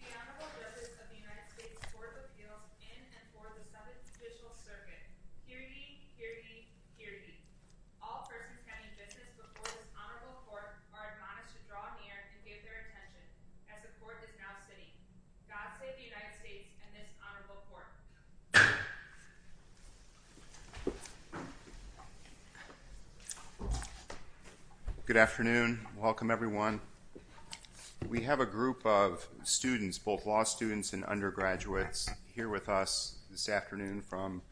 The honorable judges of the United States Court of Appeals in and for the Southern judicial circuit, hear ye, hear ye, hear ye. All persons standing business before this honorable court are admonished to draw near and give their attention as the court is now sitting. God save the United States and this honorable court. Good afternoon. Welcome everyone. We have a group of students, both law students and undergraduates, here with us this afternoon from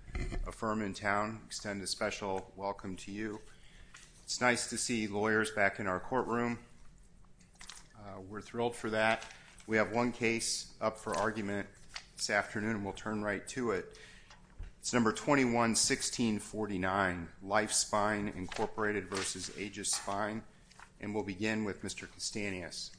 a firm in town. We extend a special welcome to you. It's nice to see lawyers back in our courtroom. We're thrilled for that. We have one case up for argument this afternoon, and we'll turn right to it. It's number 21-1649, Life Spine, Inc. v. Aegis Spine. And we'll begin with Mr. Castanhas.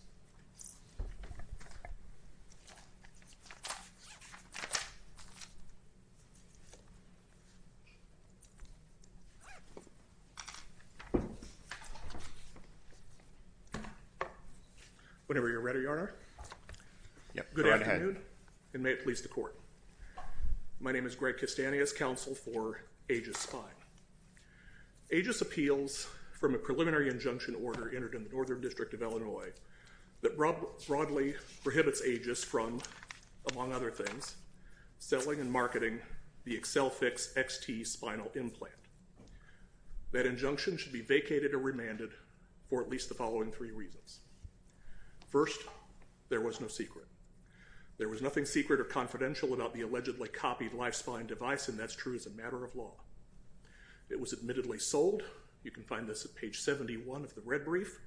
Whenever you're ready, Your Honor. Good afternoon, and may it please the court. My name is Greg Castanhas, counsel for Aegis Spine. Aegis appeals from a preliminary injunction order entered in the Northern District of Illinois that broadly prohibits Aegis from, among other things, selling and marketing the Accelfix XT spinal implant. That injunction should be vacated or remanded for at least the following three reasons. First, there was no secret. There was nothing secret or confidential about the allegedly copied Life Spine device, and that's true as a matter of law. It was admittedly sold, you can find this at page 71 of the red brief,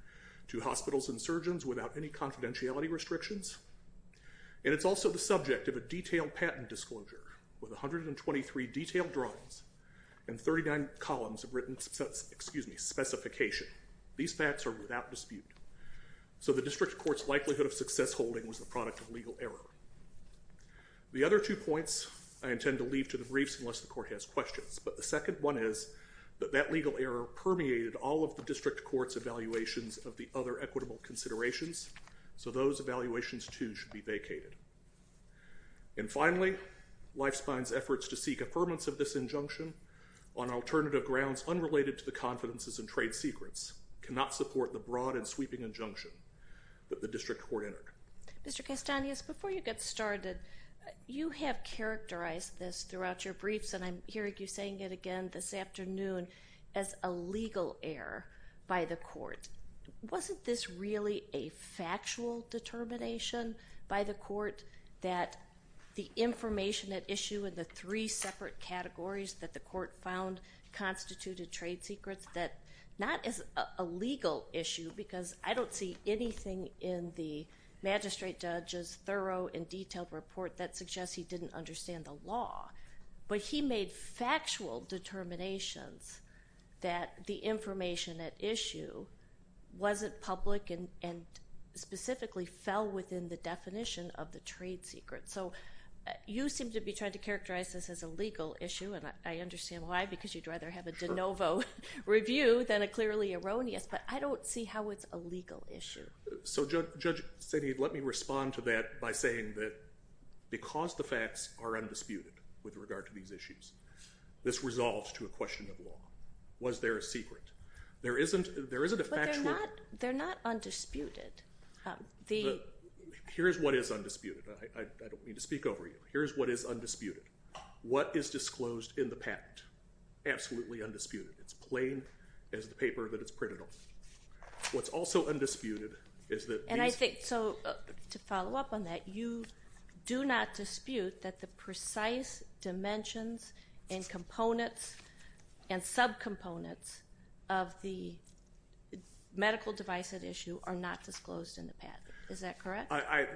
to hospitals and surgeons without any confidentiality restrictions. And it's also the subject of a detailed patent disclosure with 123 detailed drawings and 39 columns of written specification. These facts are without dispute. So the district court's likelihood of success holding was the product of legal error. The other two points I intend to leave to the briefs unless the court has questions. But the second one is that that legal error permeated all of the district court's evaluations of the other equitable considerations. So those evaluations, too, should be vacated. And finally, Life Spine's efforts to seek affirmance of this injunction on alternative grounds unrelated to the confidences and trade secrets cannot support the broad and sweeping injunction that the district court entered. Mr. Castanhas, before you get started, you have characterized this throughout your briefs, and I'm hearing you saying it again this afternoon, as a legal error by the court. Wasn't this really a factual determination by the court that the information at issue in the three separate categories that the court found constituted trade secrets that not as a legal issue, because I don't see anything in the magistrate judge's thorough and detailed report that suggests he didn't understand the law. But he made factual determinations that the information at issue wasn't public and specifically fell within the definition of the trade secret. So you seem to be trying to characterize this as a legal issue, and I understand why, because you'd rather have a de novo review than a clearly erroneous. But I don't see how it's a legal issue. So Judge Saini, let me respond to that by saying that because the facts are undisputed with regard to these issues, this resolves to a question of law. Was there a secret? There isn't a factual. But they're not undisputed. Here's what is undisputed. I don't mean to speak over you. Here's what is undisputed. What is disclosed in the patent? Absolutely undisputed. It's plain as the paper that it's printed on. What's also undisputed is that these. And I think, so to follow up on that, you do not dispute that the precise dimensions and components and subcomponents of the medical device at issue are not disclosed in the patent. Is that correct? I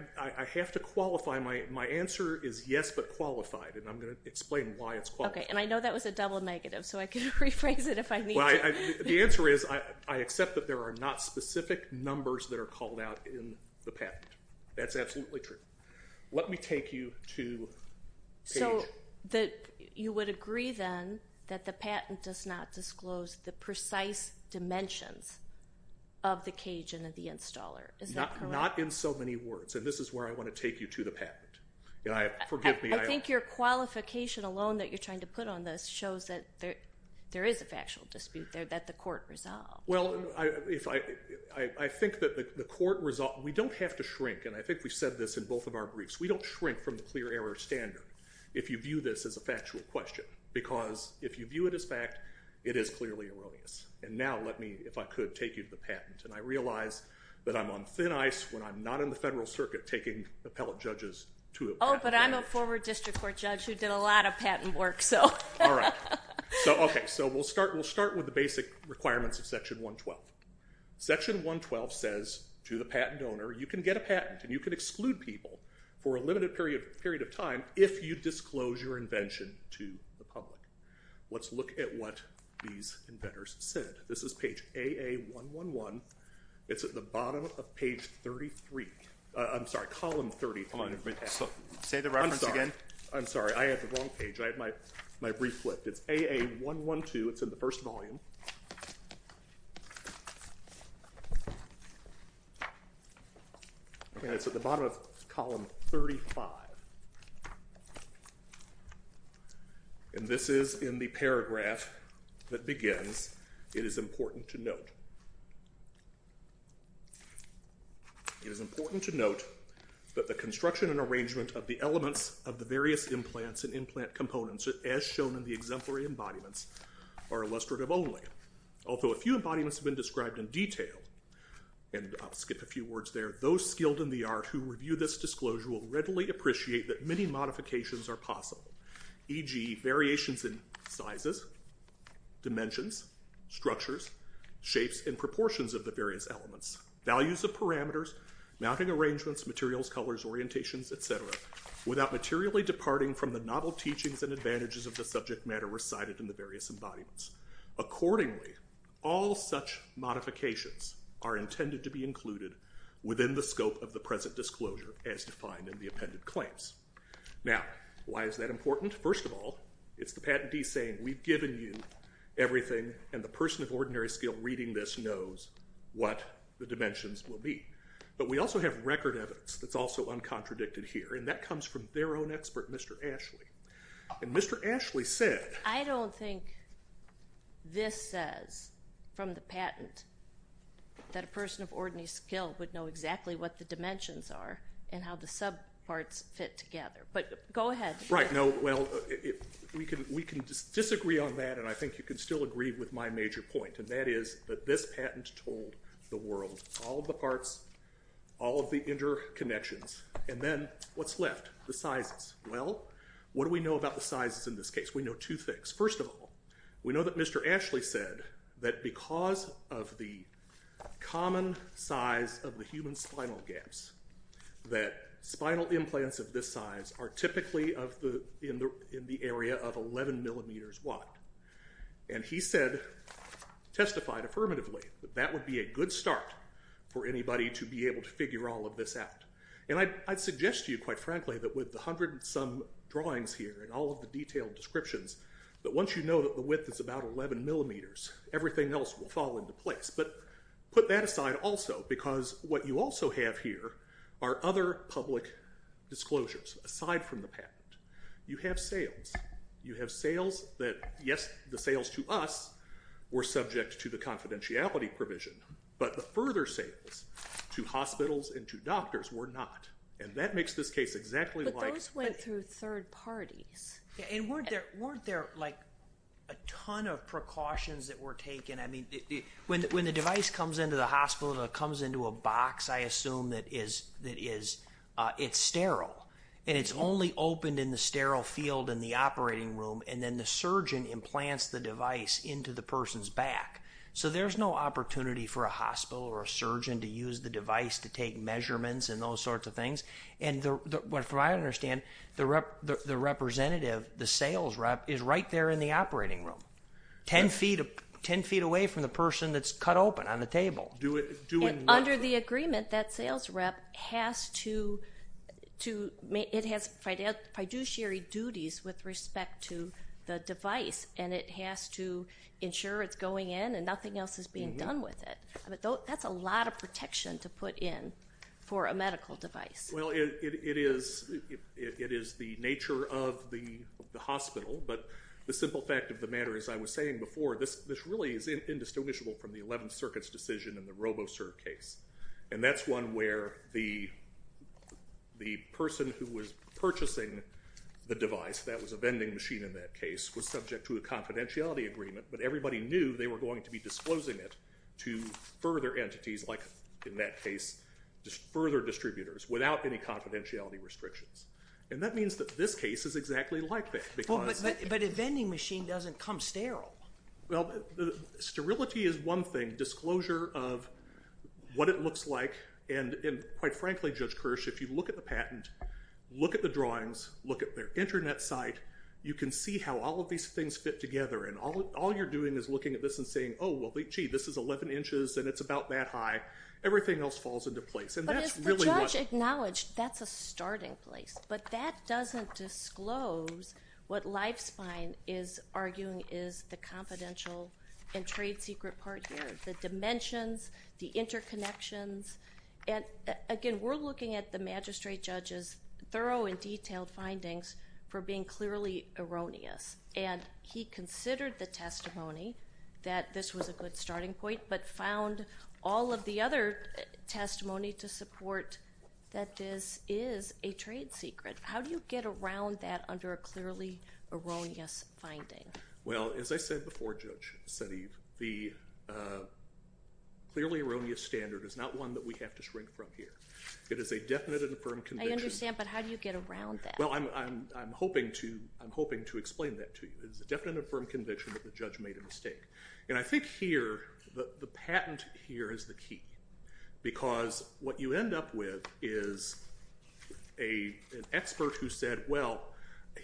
have to qualify. My answer is yes, but qualified, and I'm going to explain why it's qualified. Okay, and I know that was a double negative, so I can rephrase it if I need to. The answer is I accept that there are not specific numbers that are called out in the patent. That's absolutely true. Let me take you to CAGE. So you would agree, then, that the patent does not disclose the precise dimensions of the CAGE and of the installer. Is that correct? Not in so many words, and this is where I want to take you to the patent. Forgive me. I think your qualification alone that you're trying to put on this shows that there is a factual dispute there that the court resolved. Well, I think that the court resolved. We don't have to shrink, and I think we said this in both of our briefs. We don't shrink from the clear error standard if you view this as a factual question because if you view it as fact, it is clearly erroneous. And now let me, if I could, take you to the patent. And I realize that I'm on thin ice when I'm not in the federal circuit taking appellate judges to a patent. Oh, but I'm a forward district court judge who did a lot of patent work, so. All right. So, okay. So we'll start with the basic requirements of Section 112. Section 112 says to the patent owner, you can get a patent and you can exclude people for a limited period of time if you disclose your invention to the public. Let's look at what these inventors said. This is page AA111. It's at the bottom of page 33. I'm sorry, column 30. Say the reference again. I'm sorry. I have the wrong page. I have my brief flipped. It's AA112. It's in the first volume. And it's at the bottom of column 35. And this is in the paragraph that begins, it is important to note. It is important to note that the construction and arrangement of the elements of the various implants and implant components, as shown in the exemplary embodiments, are illustrative only. Although a few embodiments have been described in detail, and I'll skip a few words there, those skilled in the art who review this disclosure will readily appreciate that many modifications are possible. E.g., variations in sizes, dimensions, structures, shapes, and proportions of the various elements, values of parameters, mounting arrangements, materials, colors, orientations, etc. without materially departing from the novel teachings and advantages of the subject matter recited in the various embodiments. Accordingly, all such modifications are intended to be included within the scope of the present disclosure as defined in the appended claims. Now, why is that important? First of all, it's the patentee saying, we've given you everything, and the person of ordinary skill reading this knows what the dimensions will be. But we also have record evidence that's also uncontradicted here, and that comes from their own expert, Mr. Ashley. And Mr. Ashley said... I don't think this says, from the patent, that a person of ordinary skill would know exactly what the dimensions are and how the subparts fit together. But go ahead. Right, well, we can disagree on that, and I think you can still agree with my major point, and that is that this patent told the world all the parts, all of the interconnections, and then what's left? The sizes. Well, what do we know about the sizes in this case? We know two things. First of all, we know that Mr. Ashley said that because of the common size of the human spinal gaps, that spinal implants of this size are typically in the area of 11 millimeters wide. And he said, testified affirmatively, that that would be a good start for anybody to be able to figure all of this out. And I'd suggest to you, quite frankly, that with the hundred and some drawings here and all of the detailed descriptions, that once you know that the width is about 11 millimeters, everything else will fall into place. But put that aside also, because what you also have here are other public disclosures, aside from the patent. You have sales. You have sales that, yes, the sales to us were subject to the confidentiality provision, but the further sales to hospitals and to doctors were not. And that makes this case exactly like- But those went through third parties. And weren't there, like, a ton of precautions that were taken? When the device comes into the hospital, it comes into a box, I assume, that is sterile. And it's only opened in the sterile field in the operating room. And then the surgeon implants the device into the person's back. So there's no opportunity for a hospital or a surgeon to use the device to take measurements and those sorts of things. And from what I understand, the representative, the sales rep, is right there in the operating room. Ten feet away from the person that's cut open on the table. And under the agreement, that sales rep has to, it has fiduciary duties with respect to the device. And it has to ensure it's going in and nothing else is being done with it. That's a lot of protection to put in for a medical device. Well, it is the nature of the hospital. But the simple fact of the matter, as I was saying before, this really is indistinguishable from the 11th Circuit's decision in the Robocert case. And that's one where the person who was purchasing the device, that was a vending machine in that case, was subject to a confidentiality agreement. But everybody knew they were going to be disclosing it to further entities, like in that case, further distributors, without any confidentiality restrictions. And that means that this case is exactly like that. But a vending machine doesn't come sterile. Well, sterility is one thing. Disclosure of what it looks like. And quite frankly, Judge Kirsch, if you look at the patent, look at the drawings, look at their internet site, you can see how all of these things fit together. And all you're doing is looking at this and saying, oh, well, gee, this is 11 inches and it's about that high. Everything else falls into place. But as the judge acknowledged, that's a starting place. But that doesn't disclose what Lifespine is arguing is the confidential and trade secret part here, the dimensions, the interconnections. And again, we're looking at the magistrate judge's thorough and detailed findings for being clearly erroneous. And he considered the testimony that this was a good starting point, but found all of the other testimony to support that this is a trade secret. How do you get around that under a clearly erroneous finding? Well, as I said before, Judge Sediv, the clearly erroneous standard is not one that we have to shrink from here. It is a definite and affirmed convention. I understand, but how do you get around that? Well, I'm hoping to explain that to you. It's a definite and affirmed conviction that the judge made a mistake. And I think here, the patent here is the key. Because what you end up with is an expert who said, well,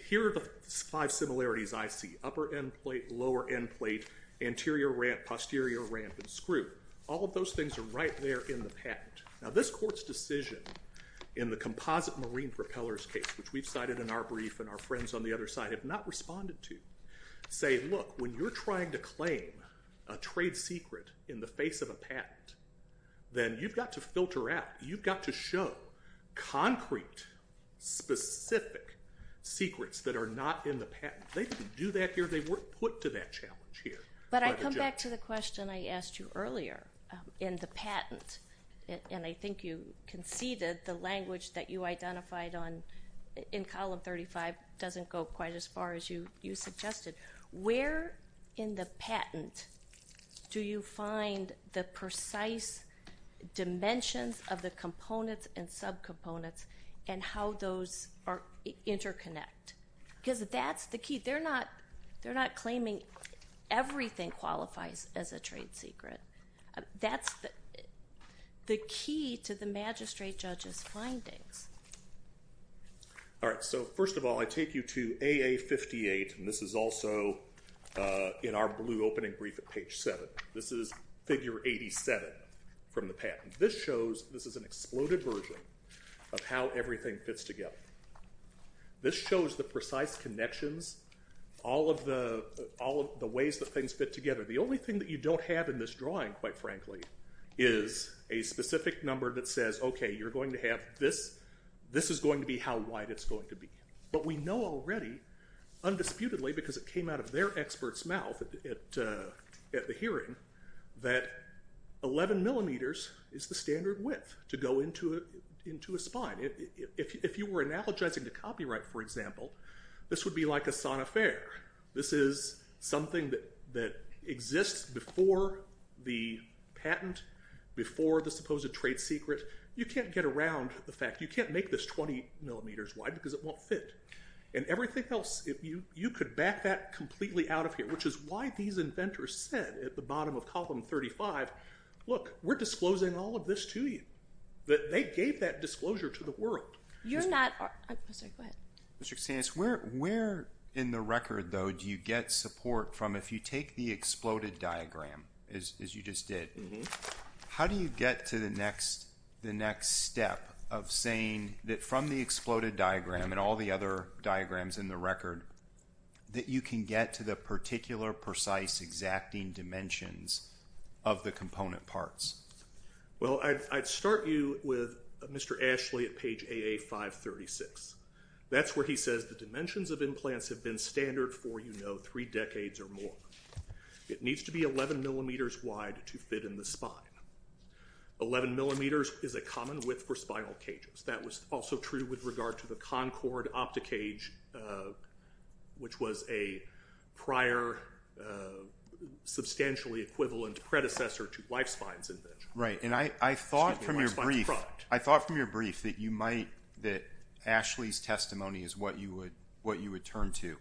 here are the five similarities I see. Upper endplate, lower endplate, anterior ramp, posterior ramp, and screw. All of those things are right there in the patent. Now, this court's decision in the composite marine propellers case, which we've cited in our brief and our friends on the other side have not responded to, say, look, when you're trying to claim a trade secret in the face of a patent, then you've got to filter out. You've got to show concrete, specific secrets that are not in the patent. They didn't do that here. They weren't put to that challenge here. But I come back to the question I asked you earlier in the patent. And I think you conceded the language that you identified in column 35 doesn't go quite as far as you suggested. Where in the patent do you find the precise dimensions of the components and subcomponents and how those interconnect? Because that's the key. They're not claiming everything qualifies as a trade secret. That's the key to the magistrate judge's findings. All right, so first of all, I take you to AA58, and this is also in our blue opening brief at page 7. This is figure 87 from the patent. This shows this is an exploded version of how everything fits together. This shows the precise connections, all of the ways that things fit together. The only thing that you don't have in this drawing, quite frankly, is a specific number that says, okay, you're going to have this. This is going to be how wide it's going to be. But we know already, undisputedly, because it came out of their expert's mouth at the hearing, that 11 millimeters is the standard width to go into a spine. If you were analogizing to copyright, for example, this would be like a sawn affair. This is something that exists before the patent, before the supposed trade secret. You can't get around the fact. You can't make this 20 millimeters wide because it won't fit. And everything else, you could back that completely out of here, which is why these inventors said at the bottom of column 35, look, we're disclosing all of this to you. They gave that disclosure to the world. You're not – I'm sorry, go ahead. Mr. Xanis, where in the record, though, do you get support from? If you take the exploded diagram, as you just did, how do you get to the next step of saying that from the exploded diagram and all the other diagrams in the record, that you can get to the particular precise exacting dimensions of the component parts? Well, I'd start you with Mr. Ashley at page AA536. That's where he says the dimensions of implants have been standard for, you know, three decades or more. It needs to be 11 millimeters wide to fit in the spine. 11 millimeters is a common width for spinal cages. That was also true with regard to the Concord Opti-Cage, which was a prior substantially equivalent predecessor to Lifespine's invention. Right, and I thought from your brief that you might – that Ashley's testimony is what you would turn to.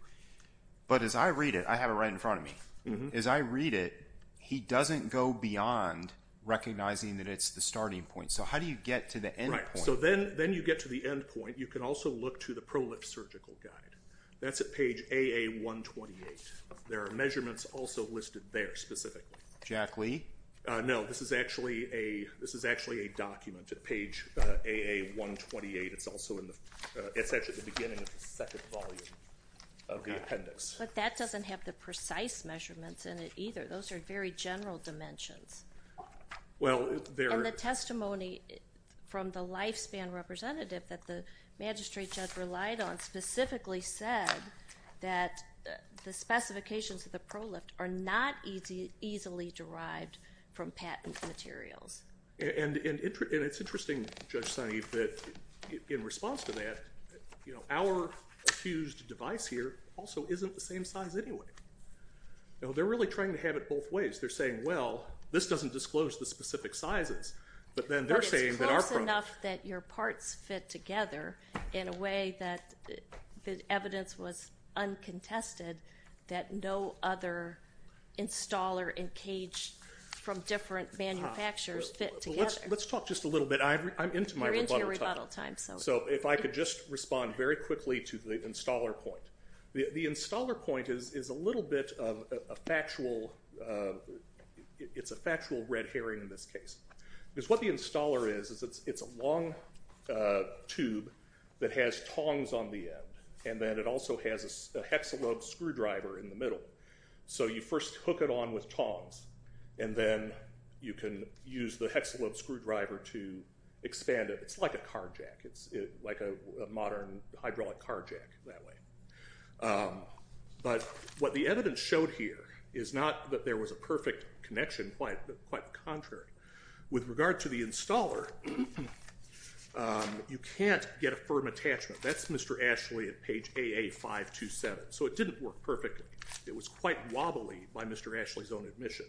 But as I read it, I have it right in front of me. As I read it, he doesn't go beyond recognizing that it's the starting point. So how do you get to the end point? So then you get to the end point. You can also look to the Prolip Surgical Guide. That's at page AA128. There are measurements also listed there specifically. Jack Lee? No, this is actually a document at page AA128. It's actually the beginning of the second volume of the appendix. But that doesn't have the precise measurements in it either. Those are very general dimensions. And the testimony from the Lifespan representative that the magistrate judge relied on specifically said that the specifications of the Prolip are not easily derived from patent materials. And it's interesting, Judge Sineve, that in response to that, our fused device here also isn't the same size anyway. They're really trying to have it both ways. They're saying, well, this doesn't disclose the specific sizes. But then they're saying that our Prolip. But it's close enough that your parts fit together in a way that the evidence was uncontested that no other installer and cage from different manufacturers fit together. Let's talk just a little bit. I'm into my rebuttal time. You're into your rebuttal time. So if I could just respond very quickly to the installer point. The installer point is a little bit of a factual red herring in this case. Because what the installer is, is it's a long tube that has tongs on the end. And then it also has a hexalube screwdriver in the middle. So you first hook it on with tongs. And then you can use the hexalube screwdriver to expand it. It's like a car jack. It's like a modern hydraulic car jack that way. But what the evidence showed here is not that there was a perfect connection. Quite the contrary. With regard to the installer, you can't get a firm attachment. That's Mr. Ashley at page AA527. So it didn't work perfectly. It was quite wobbly by Mr. Ashley's own admission.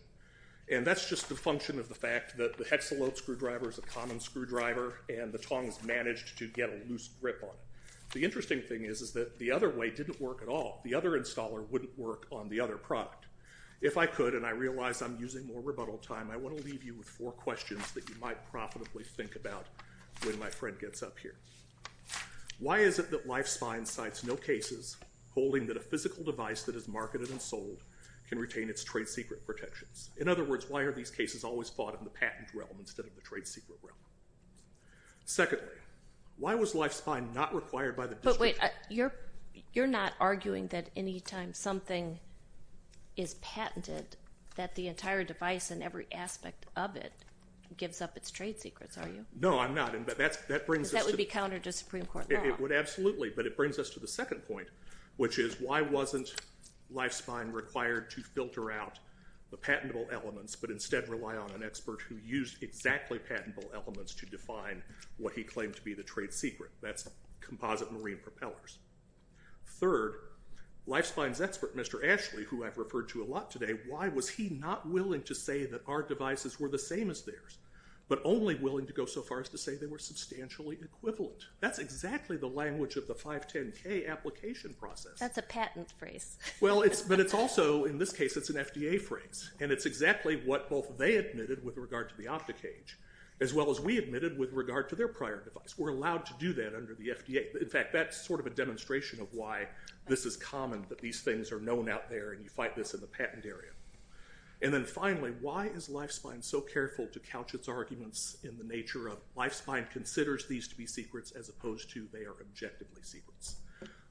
And that's just a function of the fact that the hexalube screwdriver is a common screwdriver. And the tongs managed to get a loose grip on it. The interesting thing is that the other way didn't work at all. The other installer wouldn't work on the other product. If I could, and I realize I'm using more rebuttal time, I want to leave you with four questions that you might profitably think about when my friend gets up here. Why is it that Lifespine cites no cases holding that a physical device that is marketed and sold can retain its trade secret protections? In other words, why are these cases always fought in the patent realm instead of the trade secret realm? Secondly, why was Lifespine not required by the district court? But wait, you're not arguing that any time something is patented, that the entire device and every aspect of it gives up its trade secrets, are you? No, I'm not. Because that would be counter to Supreme Court law. Absolutely. But it brings us to the second point, which is why wasn't Lifespine required to filter out the patentable elements but instead rely on an expert who used exactly patentable elements to define what he claimed to be the trade secret? That's composite marine propellers. Third, Lifespine's expert, Mr. Ashley, who I've referred to a lot today, why was he not willing to say that our devices were the same as theirs, but only willing to go so far as to say they were substantially equivalent? That's exactly the language of the 510K application process. That's a patent phrase. Well, but it's also, in this case, it's an FDA phrase. And it's exactly what both they admitted with regard to the optic cage, as well as we admitted with regard to their prior device. We're allowed to do that under the FDA. In fact, that's sort of a demonstration of why this is common, that these things are known out there and you fight this in the patent area. And then finally, why is Lifespine so careful to couch its arguments in the nature of Lifespine considers these to be secrets as opposed to they are objectively secrets?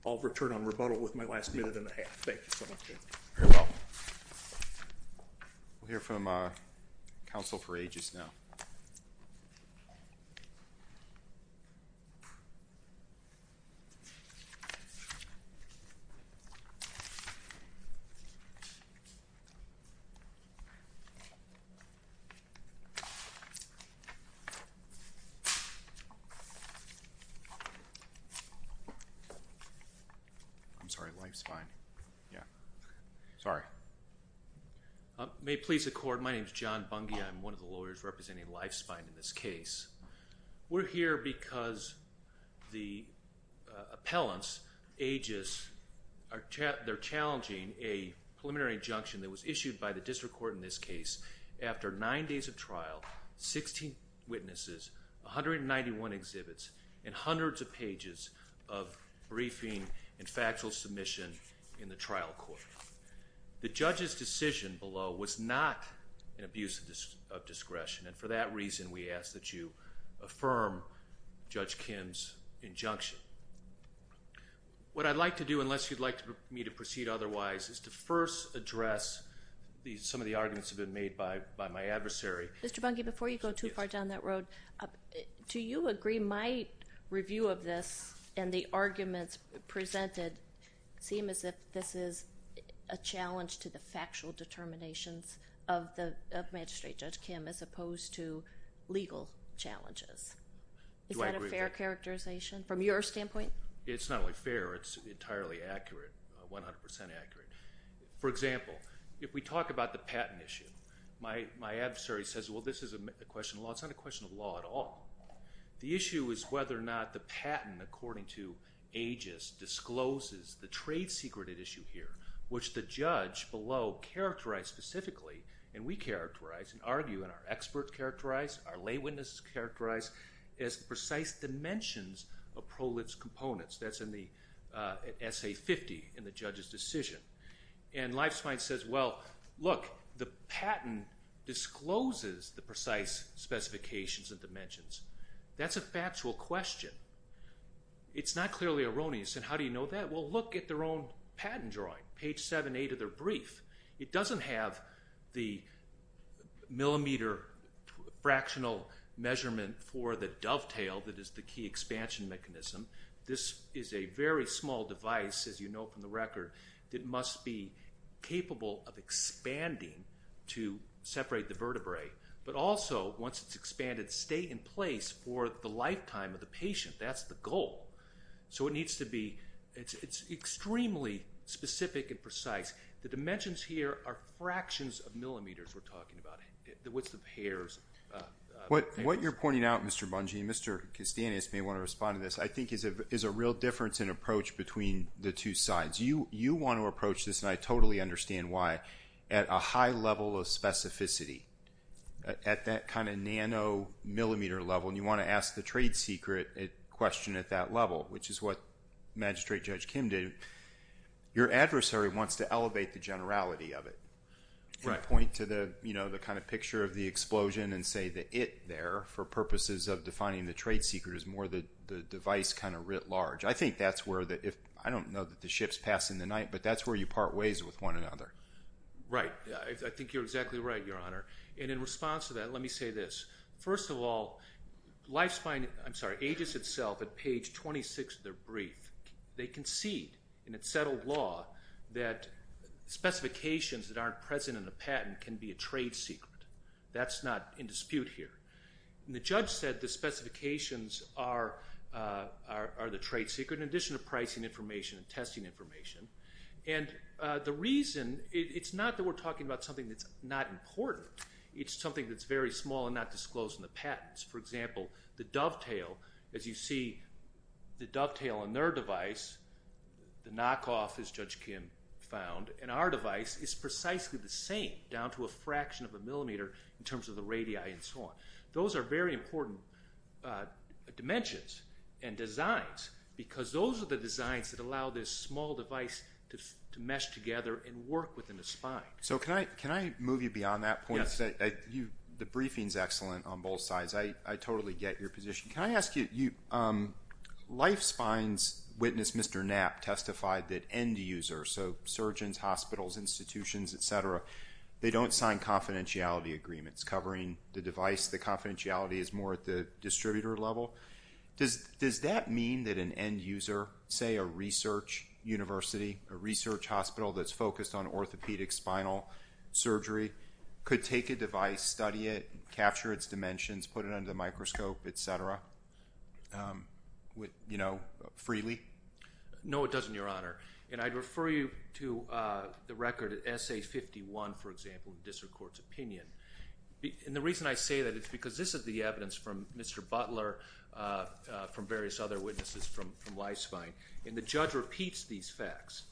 I'll return on rebuttal with my last minute and a half. Thank you so much. You're welcome. We'll hear from counsel for ages now. I'm sorry, Lifespine. Yeah. Sorry. May it please the court. My name is John Bungia. I'm one of the lawyers representing Lifespine in this case. We're here because the appellants, ages, are challenging a preliminary injunction that was issued by the district court in this case after nine days of trial, 16 witnesses, 191 exhibits, and hundreds of pages of briefing and factual submission in the trial court. The judge's decision below was not an abuse of discretion, and for that reason we ask that you affirm Judge Kim's injunction. What I'd like to do, unless you'd like me to proceed otherwise, is to first address some of the arguments that have been made by my adversary. Mr. Bungia, before you go too far down that road, do you agree my review of this and the arguments presented seem as if this is a challenge to the factual determinations of Magistrate Judge Kim as opposed to legal challenges? Do I agree with that? Is that a fair characterization from your standpoint? It's not only fair, it's entirely accurate, 100% accurate. For example, if we talk about the patent issue, my adversary says, well, this is a question of law. It's not a question of law at all. The issue is whether or not the patent, according to ages, discloses the trade secret at issue here, which the judge below characterized specifically, and we characterize and argue and our experts characterize, our lay witnesses characterize as precise dimensions of prolif's components. That's in the SA50 in the judge's decision. And Lifespine says, well, look, the patent discloses the precise specifications and dimensions. That's a factual question. It's not clearly erroneous, and how do you know that? Well, look at their own patent drawing, page 7, 8 of their brief. It doesn't have the millimeter fractional measurement for the dovetail that is the key expansion mechanism. This is a very small device, as you know from the record, that must be capable of expanding to separate the vertebrae, but also, once it's expanded, stay in place for the lifetime of the patient. That's the goal. So it needs to be extremely specific and precise. The dimensions here are fractions of millimeters we're talking about. What's the pairs? What you're pointing out, Mr. Bungie, and Mr. Castanis may want to respond to this, I think is a real difference in approach between the two sides. You want to approach this, and I totally understand why, at a high level of specificity, at that kind of nanomillimeter level, and you want to ask the trade secret question at that level, which is what Magistrate Judge Kim did. Your adversary wants to elevate the generality of it and point to the kind of picture of the explosion and say the it there for purposes of defining the trade secret as more the device kind of writ large. I don't know that the ship's passing the night, but that's where you part ways with one another. Right. I think you're exactly right, Your Honor. In response to that, let me say this. First of all, Agis itself at page 26 of their brief, they concede in its settled law that specifications that aren't present in the patent can be a trade secret. That's not in dispute here. The judge said the specifications are the trade secret in addition to pricing information and testing information. The reason, it's not that we're talking about something that's not important. It's something that's very small and not disclosed in the patents. For example, the dovetail, as you see the dovetail on their device, the knockoff, as Judge Kim found, in our device is precisely the same, down to a fraction of a millimeter in terms of the radii and so on. Those are very important dimensions and designs because those are the designs that allow this small device to mesh together and work within a spine. Can I move you beyond that point? Yes. The briefing is excellent on both sides. I totally get your position. Can I ask you, Life Spine's witness, Mr. Knapp, testified that end users, so surgeons, hospitals, institutions, et cetera, they don't sign confidentiality agreements covering the device. The confidentiality is more at the distributor level. Does that mean that an end user, say a research university, a research hospital that's focused on orthopedic spinal surgery, could take a device, study it, capture its dimensions, put it under the microscope, et cetera, freely? No, it doesn't, Your Honor. I'd refer you to the record at SA51, for example, District Court's opinion. The reason I say that is because this is the evidence from Mr. Butler, from various other witnesses from Life Spine, and the judge repeats these facts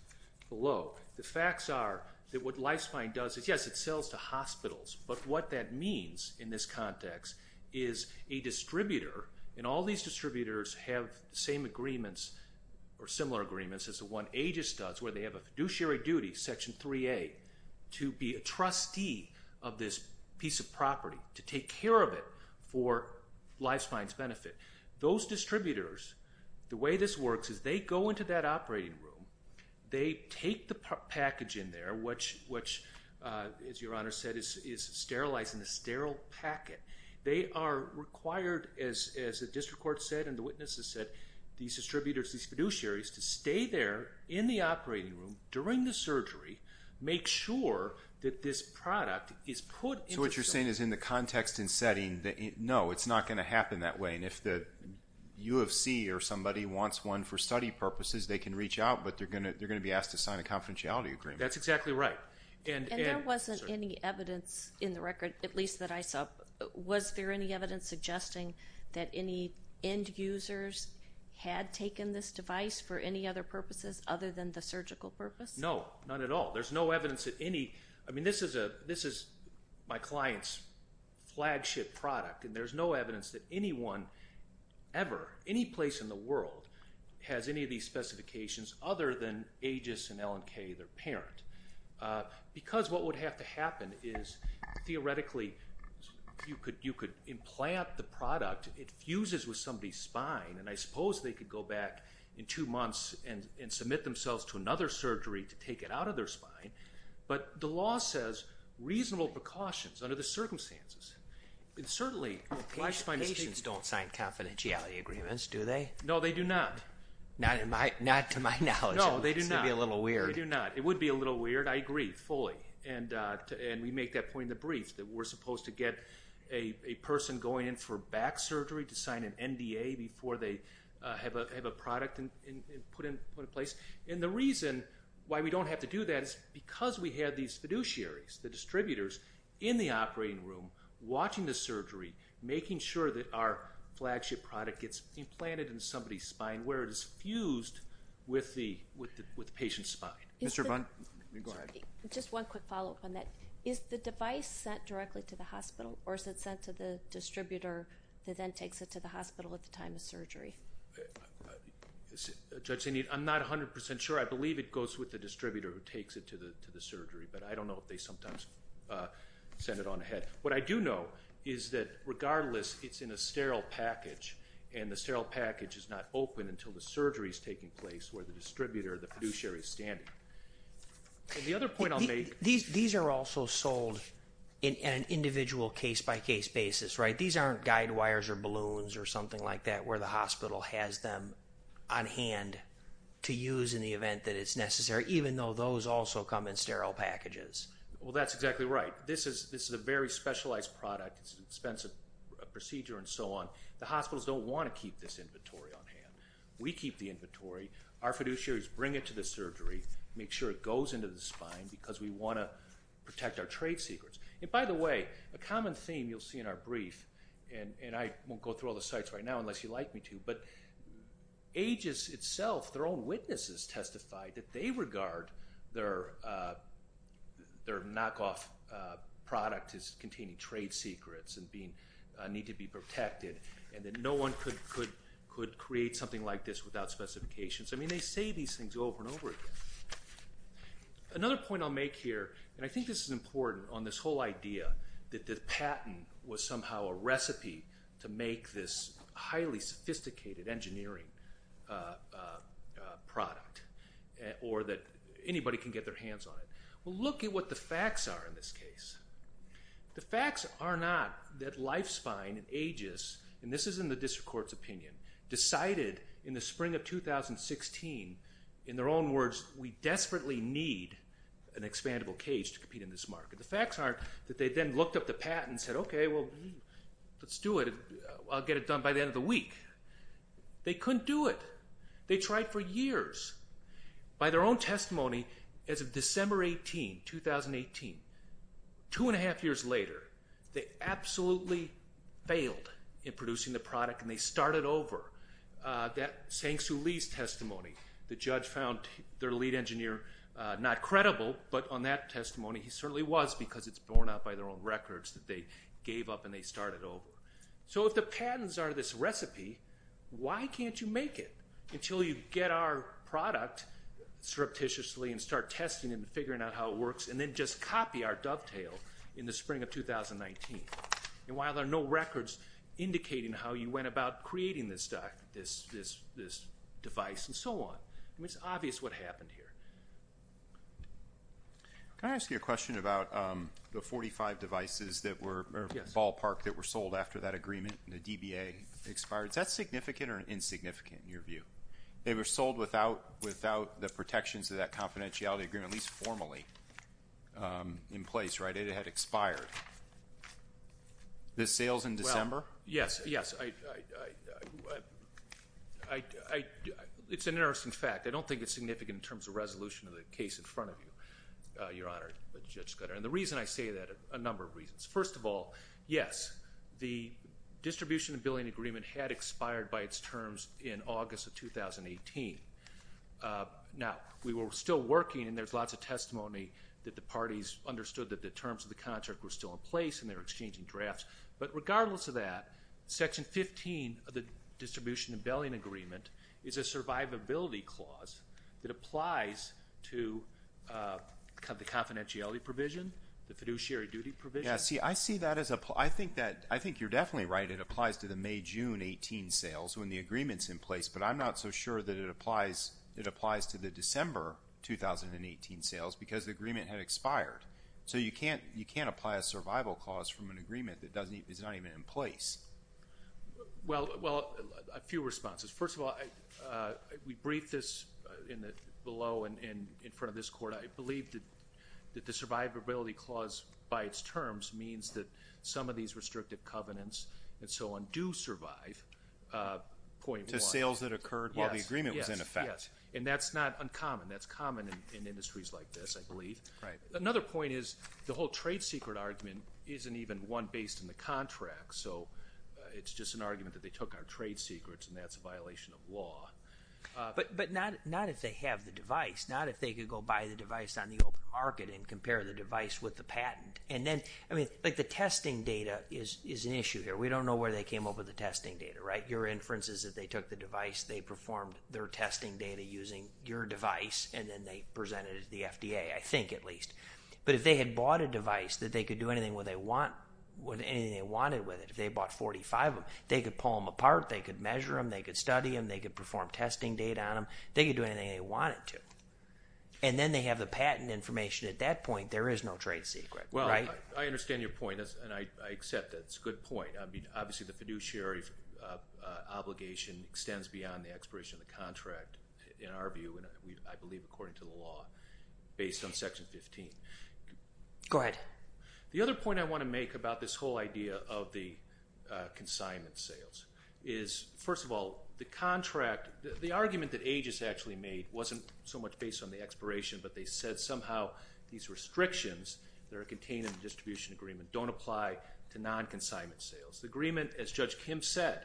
below. The facts are that what Life Spine does is, yes, it sells to hospitals, but what that means in this context is a distributor, and all these distributors have the same agreements or similar agreements as the one Aegis does, where they have a fiduciary duty, Section 3A, to be a trustee of this piece of property, to take care of it for Life Spine's benefit. Those distributors, the way this works is they go into that operating room, they take the package in there, which, as Your Honor said, is sterilized in a sterile packet. They are required, as the District Court said and the witnesses said, these distributors, these fiduciaries, to stay there in the operating room during the surgery, make sure that this product is put into the room. So what you're saying is in the context and setting, no, it's not going to happen that way, and if the U of C or somebody wants one for study purposes, they can reach out, but they're going to be asked to sign a confidentiality agreement. That's exactly right. And there wasn't any evidence in the record, at least that I saw, was there any evidence suggesting that any end users had taken this device for any other purposes other than the surgical purpose? No, not at all. There's no evidence that any ñ I mean, this is my client's flagship product, and there's no evidence that anyone ever, any place in the world, has any of these specifications other than Aegis and L&K, their parent. Because what would have to happen is, theoretically, you could implant the product, it fuses with somebody's spine, and I suppose they could go back in two months and submit themselves to another surgery to take it out of their spine. But the law says reasonable precautions under the circumstances. And certainly, life-spine is taken. Patients don't sign confidentiality agreements, do they? No, they do not. Not to my knowledge. No, they do not. It's going to be a little weird. They do not. It would be a little weird. I agree fully, and we make that point in the brief, that we're supposed to get a person going in for back surgery to sign an NDA before they have a product put in place. And the reason why we don't have to do that is because we have these fiduciaries, the distributors, in the operating room watching the surgery, making sure that our flagship product gets implanted in somebody's spine, where it is fused with the patient's spine. Mr. Bund? Go ahead. Just one quick follow-up on that. Is the device sent directly to the hospital, or is it sent to the distributor that then takes it to the hospital at the time of surgery? Judge, I'm not 100% sure. I believe it goes with the distributor who takes it to the surgery, but I don't know if they sometimes send it on ahead. What I do know is that, regardless, it's in a sterile package, and the sterile package is not open until the surgery is taking place, where the distributor, the fiduciary, is standing. The other point I'll make. These are also sold in an individual case-by-case basis, right? These aren't guide wires or balloons or something like that, where the hospital has them on hand to use in the event that it's necessary, even though those also come in sterile packages. Well, that's exactly right. This is a very specialized product. It's an expensive procedure and so on. The hospitals don't want to keep this inventory on hand. We keep the inventory. Our fiduciaries bring it to the surgery, make sure it goes into the spine, because we want to protect our trade secrets. By the way, a common theme you'll see in our brief, and I won't go through all the sites right now unless you'd like me to, but Aegis itself, their own witnesses testified that they regard their knockoff product as containing trade secrets and need to be protected, and that no one could create something like this without specifications. I mean, they say these things over and over again. Another point I'll make here, and I think this is important on this whole idea that the patent was somehow a recipe to make this highly sophisticated engineering product or that anybody can get their hands on it. Well, look at what the facts are in this case. The facts are not that Lifespine and Aegis, and this is in the district court's opinion, decided in the spring of 2016 in their own words, we desperately need an expandable cage to compete in this market. The facts are that they then looked up the patent and said, okay, well, let's do it. I'll get it done by the end of the week. They couldn't do it. They tried for years. By their own testimony, as of December 18, 2018, two and a half years later, they absolutely failed in producing the product, and they started over. That Sang Soo Lee's testimony, the judge found their lead engineer not credible, but on that testimony he certainly was because it's borne out by their own records that they gave up and they started over. So if the patents are this recipe, why can't you make it until you get our product surreptitiously and start testing it and figuring out how it works and then just copy our dovetail in the spring of 2019? And while there are no records indicating how you went about creating this device and so on, it's obvious what happened here. Can I ask you a question about the 45 devices that were ballparked that were sold after that agreement and the DBA expired? Is that significant or insignificant in your view? They were sold without the protections of that confidentiality agreement, at least formally, in place, right? It had expired. The sales in December? Yes, yes. It's an interesting fact. I don't think it's significant in terms of resolution of the case in front of you, Your Honor, Judge Scudder. And the reason I say that, a number of reasons. First of all, yes, the distribution and billing agreement had expired by its Now, we were still working and there's lots of testimony that the parties understood that the terms of the contract were still in place and they were exchanging drafts. But regardless of that, Section 15 of the distribution and billing agreement is a survivability clause that applies to the confidentiality provision, the fiduciary duty provision. Yeah, see, I see that as a – I think you're definitely right. It applies to the May-June 18 sales when the agreement's in place. But I'm not so sure that it applies to the December 2018 sales because the agreement had expired. So you can't apply a survival clause from an agreement that is not even in place. Well, a few responses. First of all, we briefed this below and in front of this Court. I believe that the survivability clause by its terms means that some of these that occurred while the agreement was in effect. And that's not uncommon. That's common in industries like this, I believe. Another point is the whole trade secret argument isn't even one based in the contract. So it's just an argument that they took our trade secrets and that's a violation of law. But not if they have the device, not if they could go buy the device on the open market and compare the device with the patent. And then, I mean, like the testing data is an issue here. We don't know where they came up with the testing data, right? Your inference is that they took the device, they performed their testing data using your device, and then they presented it to the FDA, I think at least. But if they had bought a device that they could do anything they wanted with it, if they bought 45 of them, they could pull them apart, they could measure them, they could study them, they could perform testing data on them, they could do anything they wanted to. And then they have the patent information. At that point, there is no trade secret, right? Well, I understand your point, and I accept it. It's a good point. Obviously, the fiduciary obligation extends beyond the expiration of the contract, in our view, and I believe according to the law, based on Section 15. Go ahead. The other point I want to make about this whole idea of the consignment sales is, first of all, the contract, the argument that AGIS actually made wasn't so much based on the expiration, but they said somehow these restrictions that are contained in the distribution agreement don't apply to distribution agreements. The agreement, as Judge Kim said,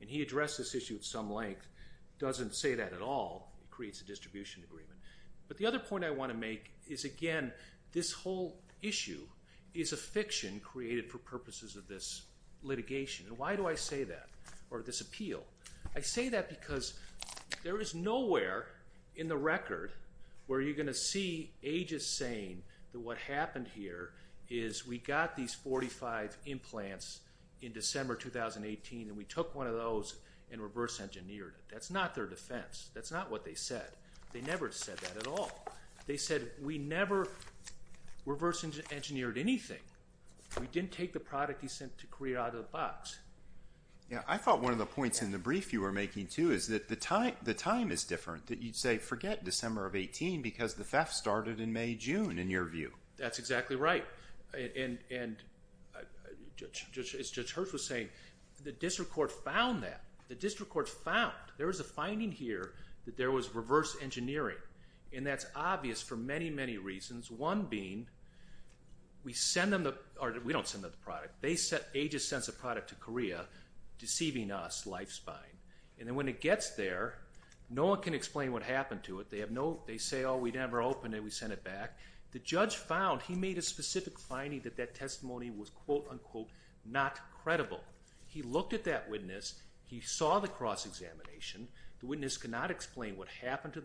and he addressed this issue at some length, doesn't say that at all. It creates a distribution agreement. But the other point I want to make is, again, this whole issue is a fiction created for purposes of this litigation. And why do I say that, or this appeal? I say that because there is nowhere in the record where you're going to see AGIS saying that what happened here is we got these 45 implants in December 2018 and we took one of those and reverse engineered it. That's not their defense. That's not what they said. They never said that at all. They said we never reverse engineered anything. We didn't take the product he sent to Korea out of the box. Yeah, I thought one of the points in the brief you were making, too, is that the time is different, that you'd say forget December of 18 because the theft started in May, June, in your view. That's exactly right. And as Judge Hirsch was saying, the district court found that. The district court found. There was a finding here that there was reverse engineering, and that's obvious for many, many reasons. One being, we don't send them the product. AGIS sends the product to Korea, deceiving us, life-spying. And then when it gets there, no one can explain what happened to it. They say, oh, we never opened it. We sent it back. The judge found he made a specific finding that that testimony was quote-unquote not credible. He looked at that witness. He saw the cross-examination. The witness could not explain what happened to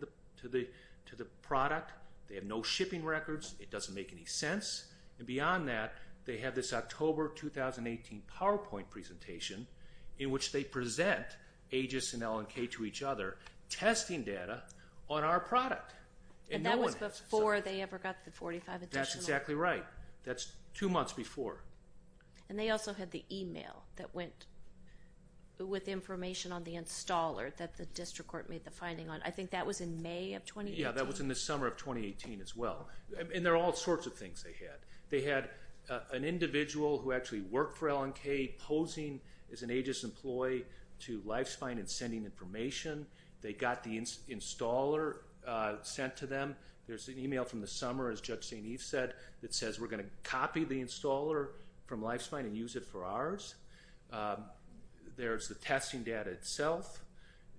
the product. They have no shipping records. It doesn't make any sense. And beyond that, they have this October 2018 PowerPoint presentation in which they present AGIS and L&K to each other, testing data on our product. And no one has. And that was before they ever got the 45 additional. That's exactly right. That's two months before. And they also had the e-mail that went with information on the installer that the district court made the finding on. I think that was in May of 2018. Yeah, that was in the summer of 2018 as well. And there are all sorts of things they had. They had an individual who actually worked for L&K posing as an AGIS employee to life-spying and sending information. They got the installer sent to them. There's an e-mail from the summer, as Judge St. Eve said, that says we're going to copy the installer from Lifespine and use it for ours. There's the testing data itself.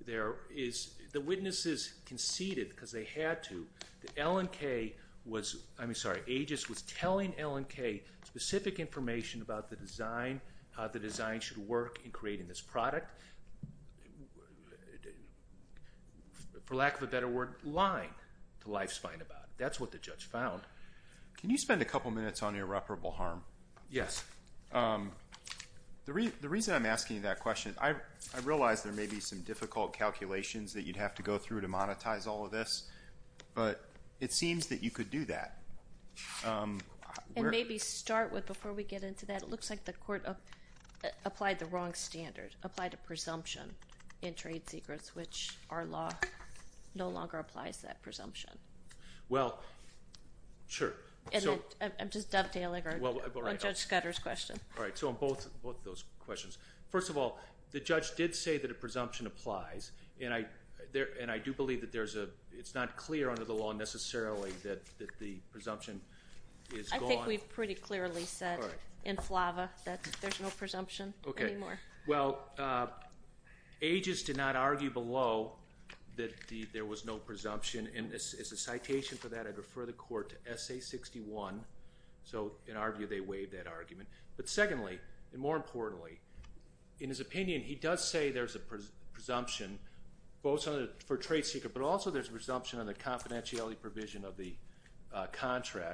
The witnesses conceded because they had to. The L&K was – I mean, sorry, AGIS was telling L&K specific information about the design, how the design should work in creating this product. For lack of a better word, lying to Lifespine about it. That's what the judge found. Can you spend a couple minutes on irreparable harm? Yes. The reason I'm asking you that question, I realize there may be some difficult calculations that you'd have to go through to monetize all of this, but it seems that you could do that. And maybe start with, before we get into that, it looks like the court applied the wrong standard, applied a presumption in trade secrets, which our law no longer applies that presumption. Well, sure. I'm just dovetailing on Judge Scudder's question. All right. So on both of those questions, first of all, the judge did say that a presumption applies, and I do believe that it's not clear under the law necessarily that the presumption is gone. We've pretty clearly said in Flava that there's no presumption anymore. Okay. Well, Aegis did not argue below that there was no presumption. And as a citation for that, I'd refer the court to Essay 61. So in our view, they waived that argument. But secondly, and more importantly, in his opinion, he does say there's a presumption for a trade secret, but also there's a presumption on the confidentiality provision of the case.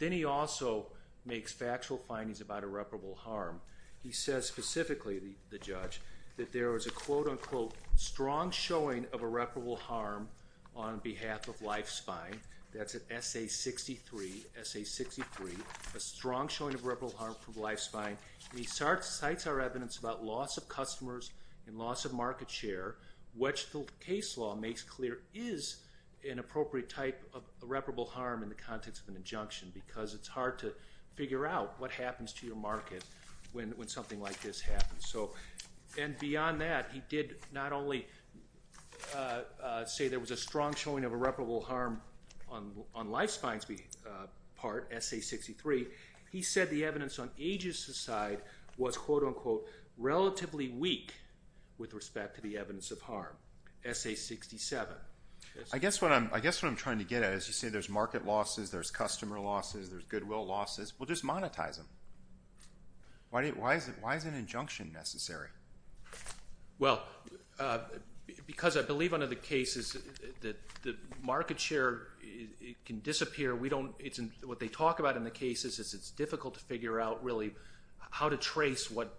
And he also makes factual findings about irreparable harm. He says specifically, the judge, that there was a quote-unquote strong showing of irreparable harm on behalf of life spine. That's at Essay 63. Essay 63, a strong showing of irreparable harm from life spine. He cites our evidence about loss of customers and loss of market share, which the case law makes clear is an appropriate type of irreparable harm in the context of an injunction because it's hard to figure out what happens to your market when something like this happens. And beyond that, he did not only say there was a strong showing of irreparable harm on life spine's part, Essay 63, he said the evidence on Aegis' side was quote-unquote relatively weak with respect to the evidence of harm. Essay 67. I guess what I'm trying to get at is you say there's market losses, there's customer losses, there's goodwill losses. Well, just monetize them. Why is an injunction necessary? Well, because I believe under the case is the market share can disappear. What they talk about in the case is it's difficult to figure out really how to trace what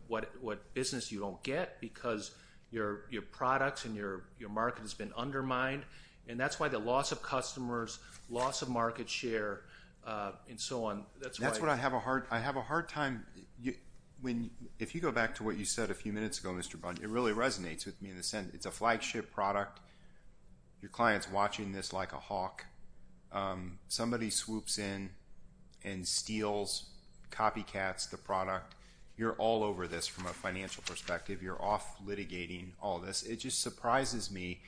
business you don't get because your products and your market has been undermined. And that's why the loss of customers, loss of market share, and so on. That's what I have a hard time. If you go back to what you said a few minutes ago, Mr. Bunn, it really resonates with me in a sense. It's a flagship product. Your client's watching this like a hawk. Somebody swoops in and steals, copycats the product. You're all over this from a financial perspective. You're off litigating all this. It just surprises me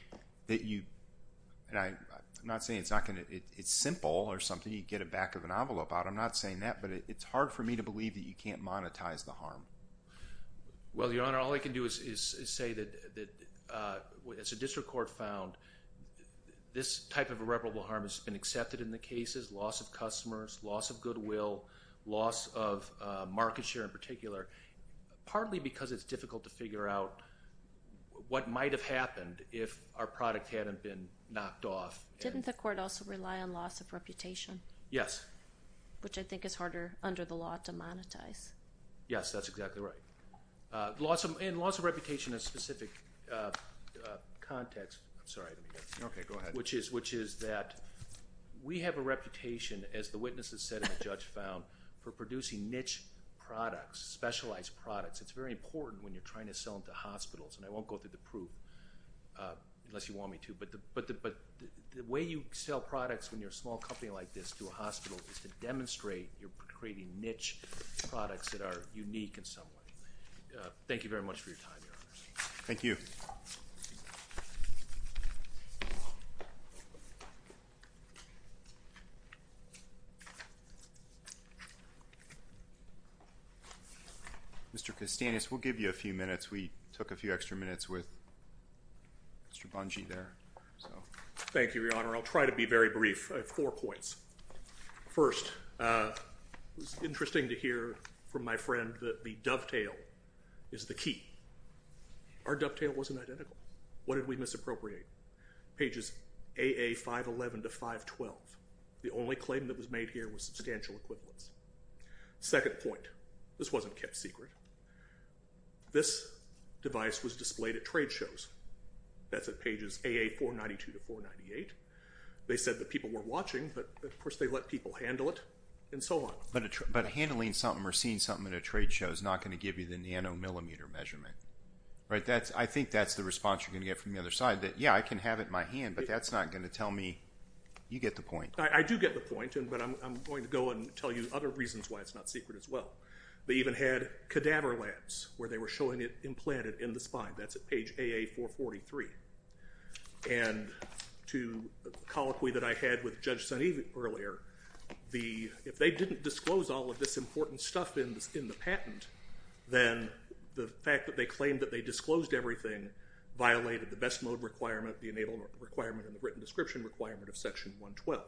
that you – and I'm not saying it's not going to – it's simple or something. You get a back of an envelope out. I'm not saying that. But it's hard for me to believe that you can't monetize the harm. Well, Your Honor, all I can do is say that as a district court found, this type of irreparable harm has been accepted in the cases, partly because it's difficult to figure out what might have happened if our product hadn't been knocked off. Didn't the court also rely on loss of reputation? Yes. Which I think is harder under the law to monetize. Yes, that's exactly right. And loss of reputation in a specific context, which is that we have a reputation, as the witnesses said and the judge found, for producing niche products, specialized products. It's very important when you're trying to sell them to hospitals. And I won't go through the proof unless you want me to. But the way you sell products when you're a small company like this to a hospital is to demonstrate you're creating niche products that are unique in some way. Thank you very much for your time, Your Honors. Thank you. Mr. Costanez, we'll give you a few minutes. We took a few extra minutes with Mr. Bungie there. Thank you, Your Honor. I'll try to be very brief. I have four points. First, it was interesting to hear from my friend that the dovetail is the key. Our dovetail wasn't identical. What did we misappropriate? Pages AA 511 to 512. The only claim that was made here was substantial equivalence. Second point. This wasn't kept secret. This device was displayed at trade shows. That's at pages AA 492 to 498. They said that people were watching, but, of course, they let people handle it, and so on. But handling something or seeing something at a trade show is not going to give you the nanomillimeter measurement. I think that's the response you're going to get from the other side, that, yeah, I can have it in my hand, but that's not going to tell me. You get the point. I do get the point, but I'm going to go and tell you other reasons why it's not secret as well. They even had cadaver labs where they were showing it implanted in the spine. That's at page AA 443. And to the colloquy that I had with Judge Suneev earlier, if they didn't disclose all of this important stuff in the patent, then the fact that they claimed that they disclosed everything violated the best mode requirement, the enabled requirement, and the written description requirement of Section 112.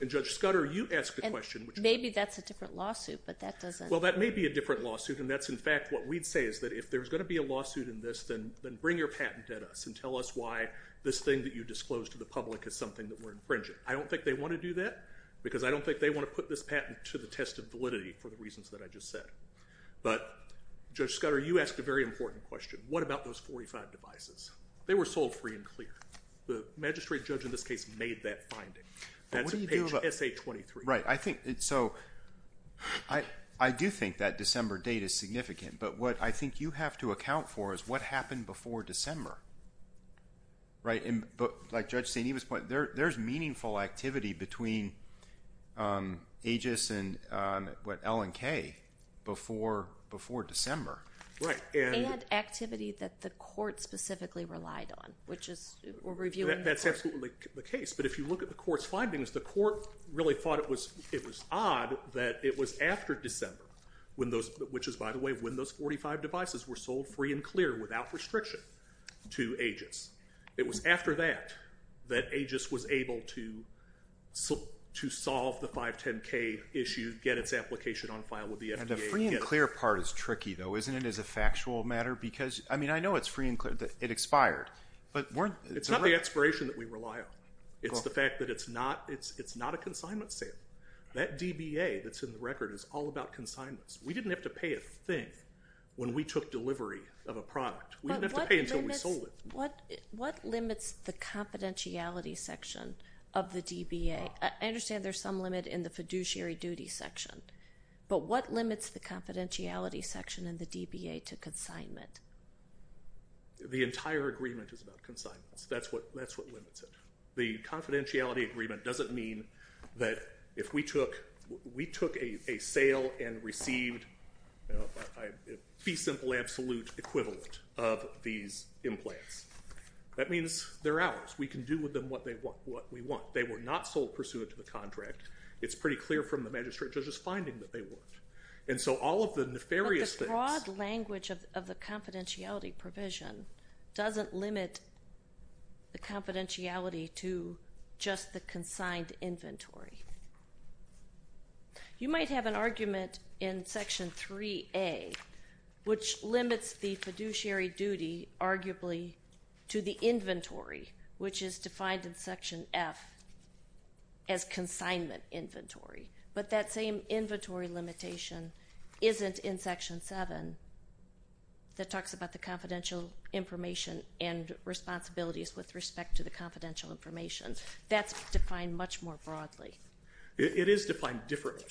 And, Judge Scudder, you asked the question. Maybe that's a different lawsuit, but that doesn't… Well, that may be a different lawsuit, and that's, in fact, what we'd say is that if there's going to be a lawsuit in this, then bring your patent at us and tell us why this thing that you disclosed to the public is something that we're infringing. I don't think they want to do that because I don't think they want to put this patent to the test of validity for the reasons that I just said. But, Judge Scudder, you asked a very important question. What about those 45 devices? They were sold free and clear. The magistrate judge in this case made that finding. That's at page SA 23. Right. So I do think that December date is significant, but what I think you have to account for is what happened before December. Like Judge Suneev was pointing, there's meaningful activity between Aegis and L&K before December. Right. And activity that the court specifically relied on, which is… That's absolutely the case. But if you look at the court's findings, the court really thought it was odd that it was after December, which is, by the way, when those 45 devices were sold free and clear without restriction to Aegis. It was after that that Aegis was able to solve the 510K issue, get its application on file with the FDA. The free and clear part is tricky, though, isn't it, as a factual matter? Because, I mean, I know it's free and clear. It expired. It's not the expiration that we rely on. It's the fact that it's not a consignment sale. That DBA that's in the record is all about consignments. We didn't have to pay a thing when we took delivery of a product. We didn't have to pay until we sold it. What limits the confidentiality section of the DBA? I understand there's some limit in the fiduciary duty section, but what limits the confidentiality section in the DBA to consignment? The entire agreement is about consignments. That's what limits it. The confidentiality agreement doesn't mean that if we took a sale and received a fee simple absolute equivalent of these implants. That means they're ours. We can do with them what we want. They were not sold pursuant to the contract. It's pretty clear from the magistrate judge's finding that they weren't. And so all of the nefarious things. But the broad language of the confidentiality provision doesn't limit the confidentiality to just the consigned inventory. You might have an argument in Section 3A, which limits the fiduciary duty arguably to the inventory, which is defined in Section F as consignment inventory. But that same inventory limitation isn't in Section 7 that talks about the confidential information and responsibilities with respect to the confidential information. That's defined much more broadly. It is defined differently.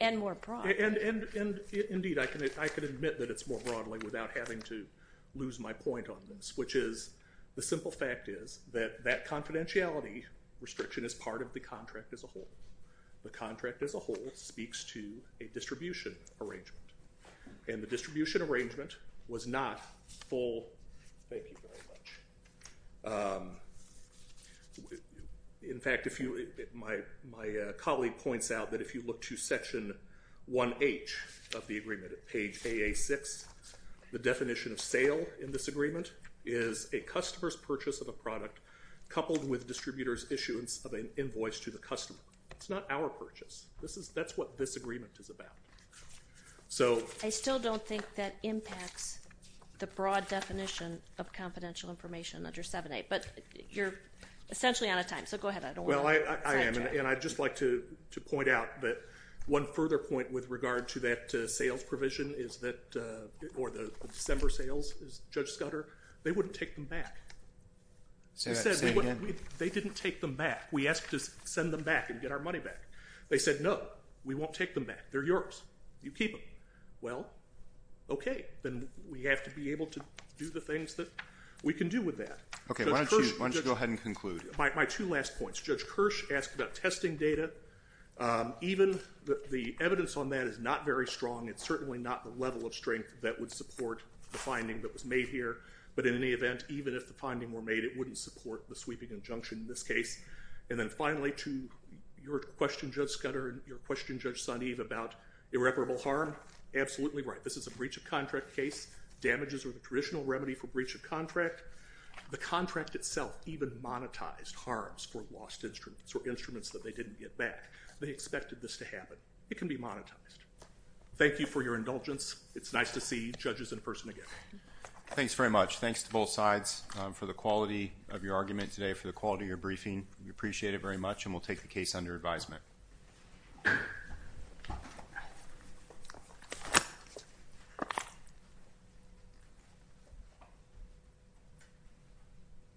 And more broadly. And indeed I can admit that it's more broadly without having to lose my point on this, which is the simple fact is that that confidentiality restriction is part of the contract as a whole. The contract as a whole speaks to a distribution arrangement. And the distribution arrangement was not full. Thank you very much. In fact, my colleague points out that if you look to Section 1H of the agreement at page AA6, the definition of sale in this agreement is a customer's purchase of a product coupled with distributor's issuance of an invoice to the customer. It's not our purchase. That's what this agreement is about. I still don't think that impacts the broad definition of confidential information under 7A. But you're essentially out of time. So go ahead. I don't want to sidetrack. Well, I am. And I'd just like to point out that one further point with regard to that sales provision is that, or the December sales, is Judge Scudder. They wouldn't take them back. Say that. Say it again. They didn't take them back. We asked to send them back and get our money back. They said, no, we won't take them back. They're yours. You keep them. Well, okay. Then we have to be able to do the things that we can do with that. Okay. Why don't you go ahead and conclude? My two last points. Judge Kirsch asked about testing data. Even the evidence on that is not very strong. It's certainly not the level of strength that would support the finding that was made here. But in any event, even if the finding were made, it wouldn't support the sweeping injunction in this case. And then finally, to your question, Judge Scudder, and your question, Judge Sonniv, about irreparable harm. Absolutely right. This is a breach of contract case. Damages are the traditional remedy for breach of contract. The contract itself even monetized harms for lost instruments or instruments that they didn't get back. They expected this to happen. It can be monetized. Thank you for your indulgence. It's nice to see judges in person again. Thanks very much. Thanks to both sides for the quality of your argument today, for the quality of your briefing. We appreciate it very much, and we'll take the case under advisement. Thank you.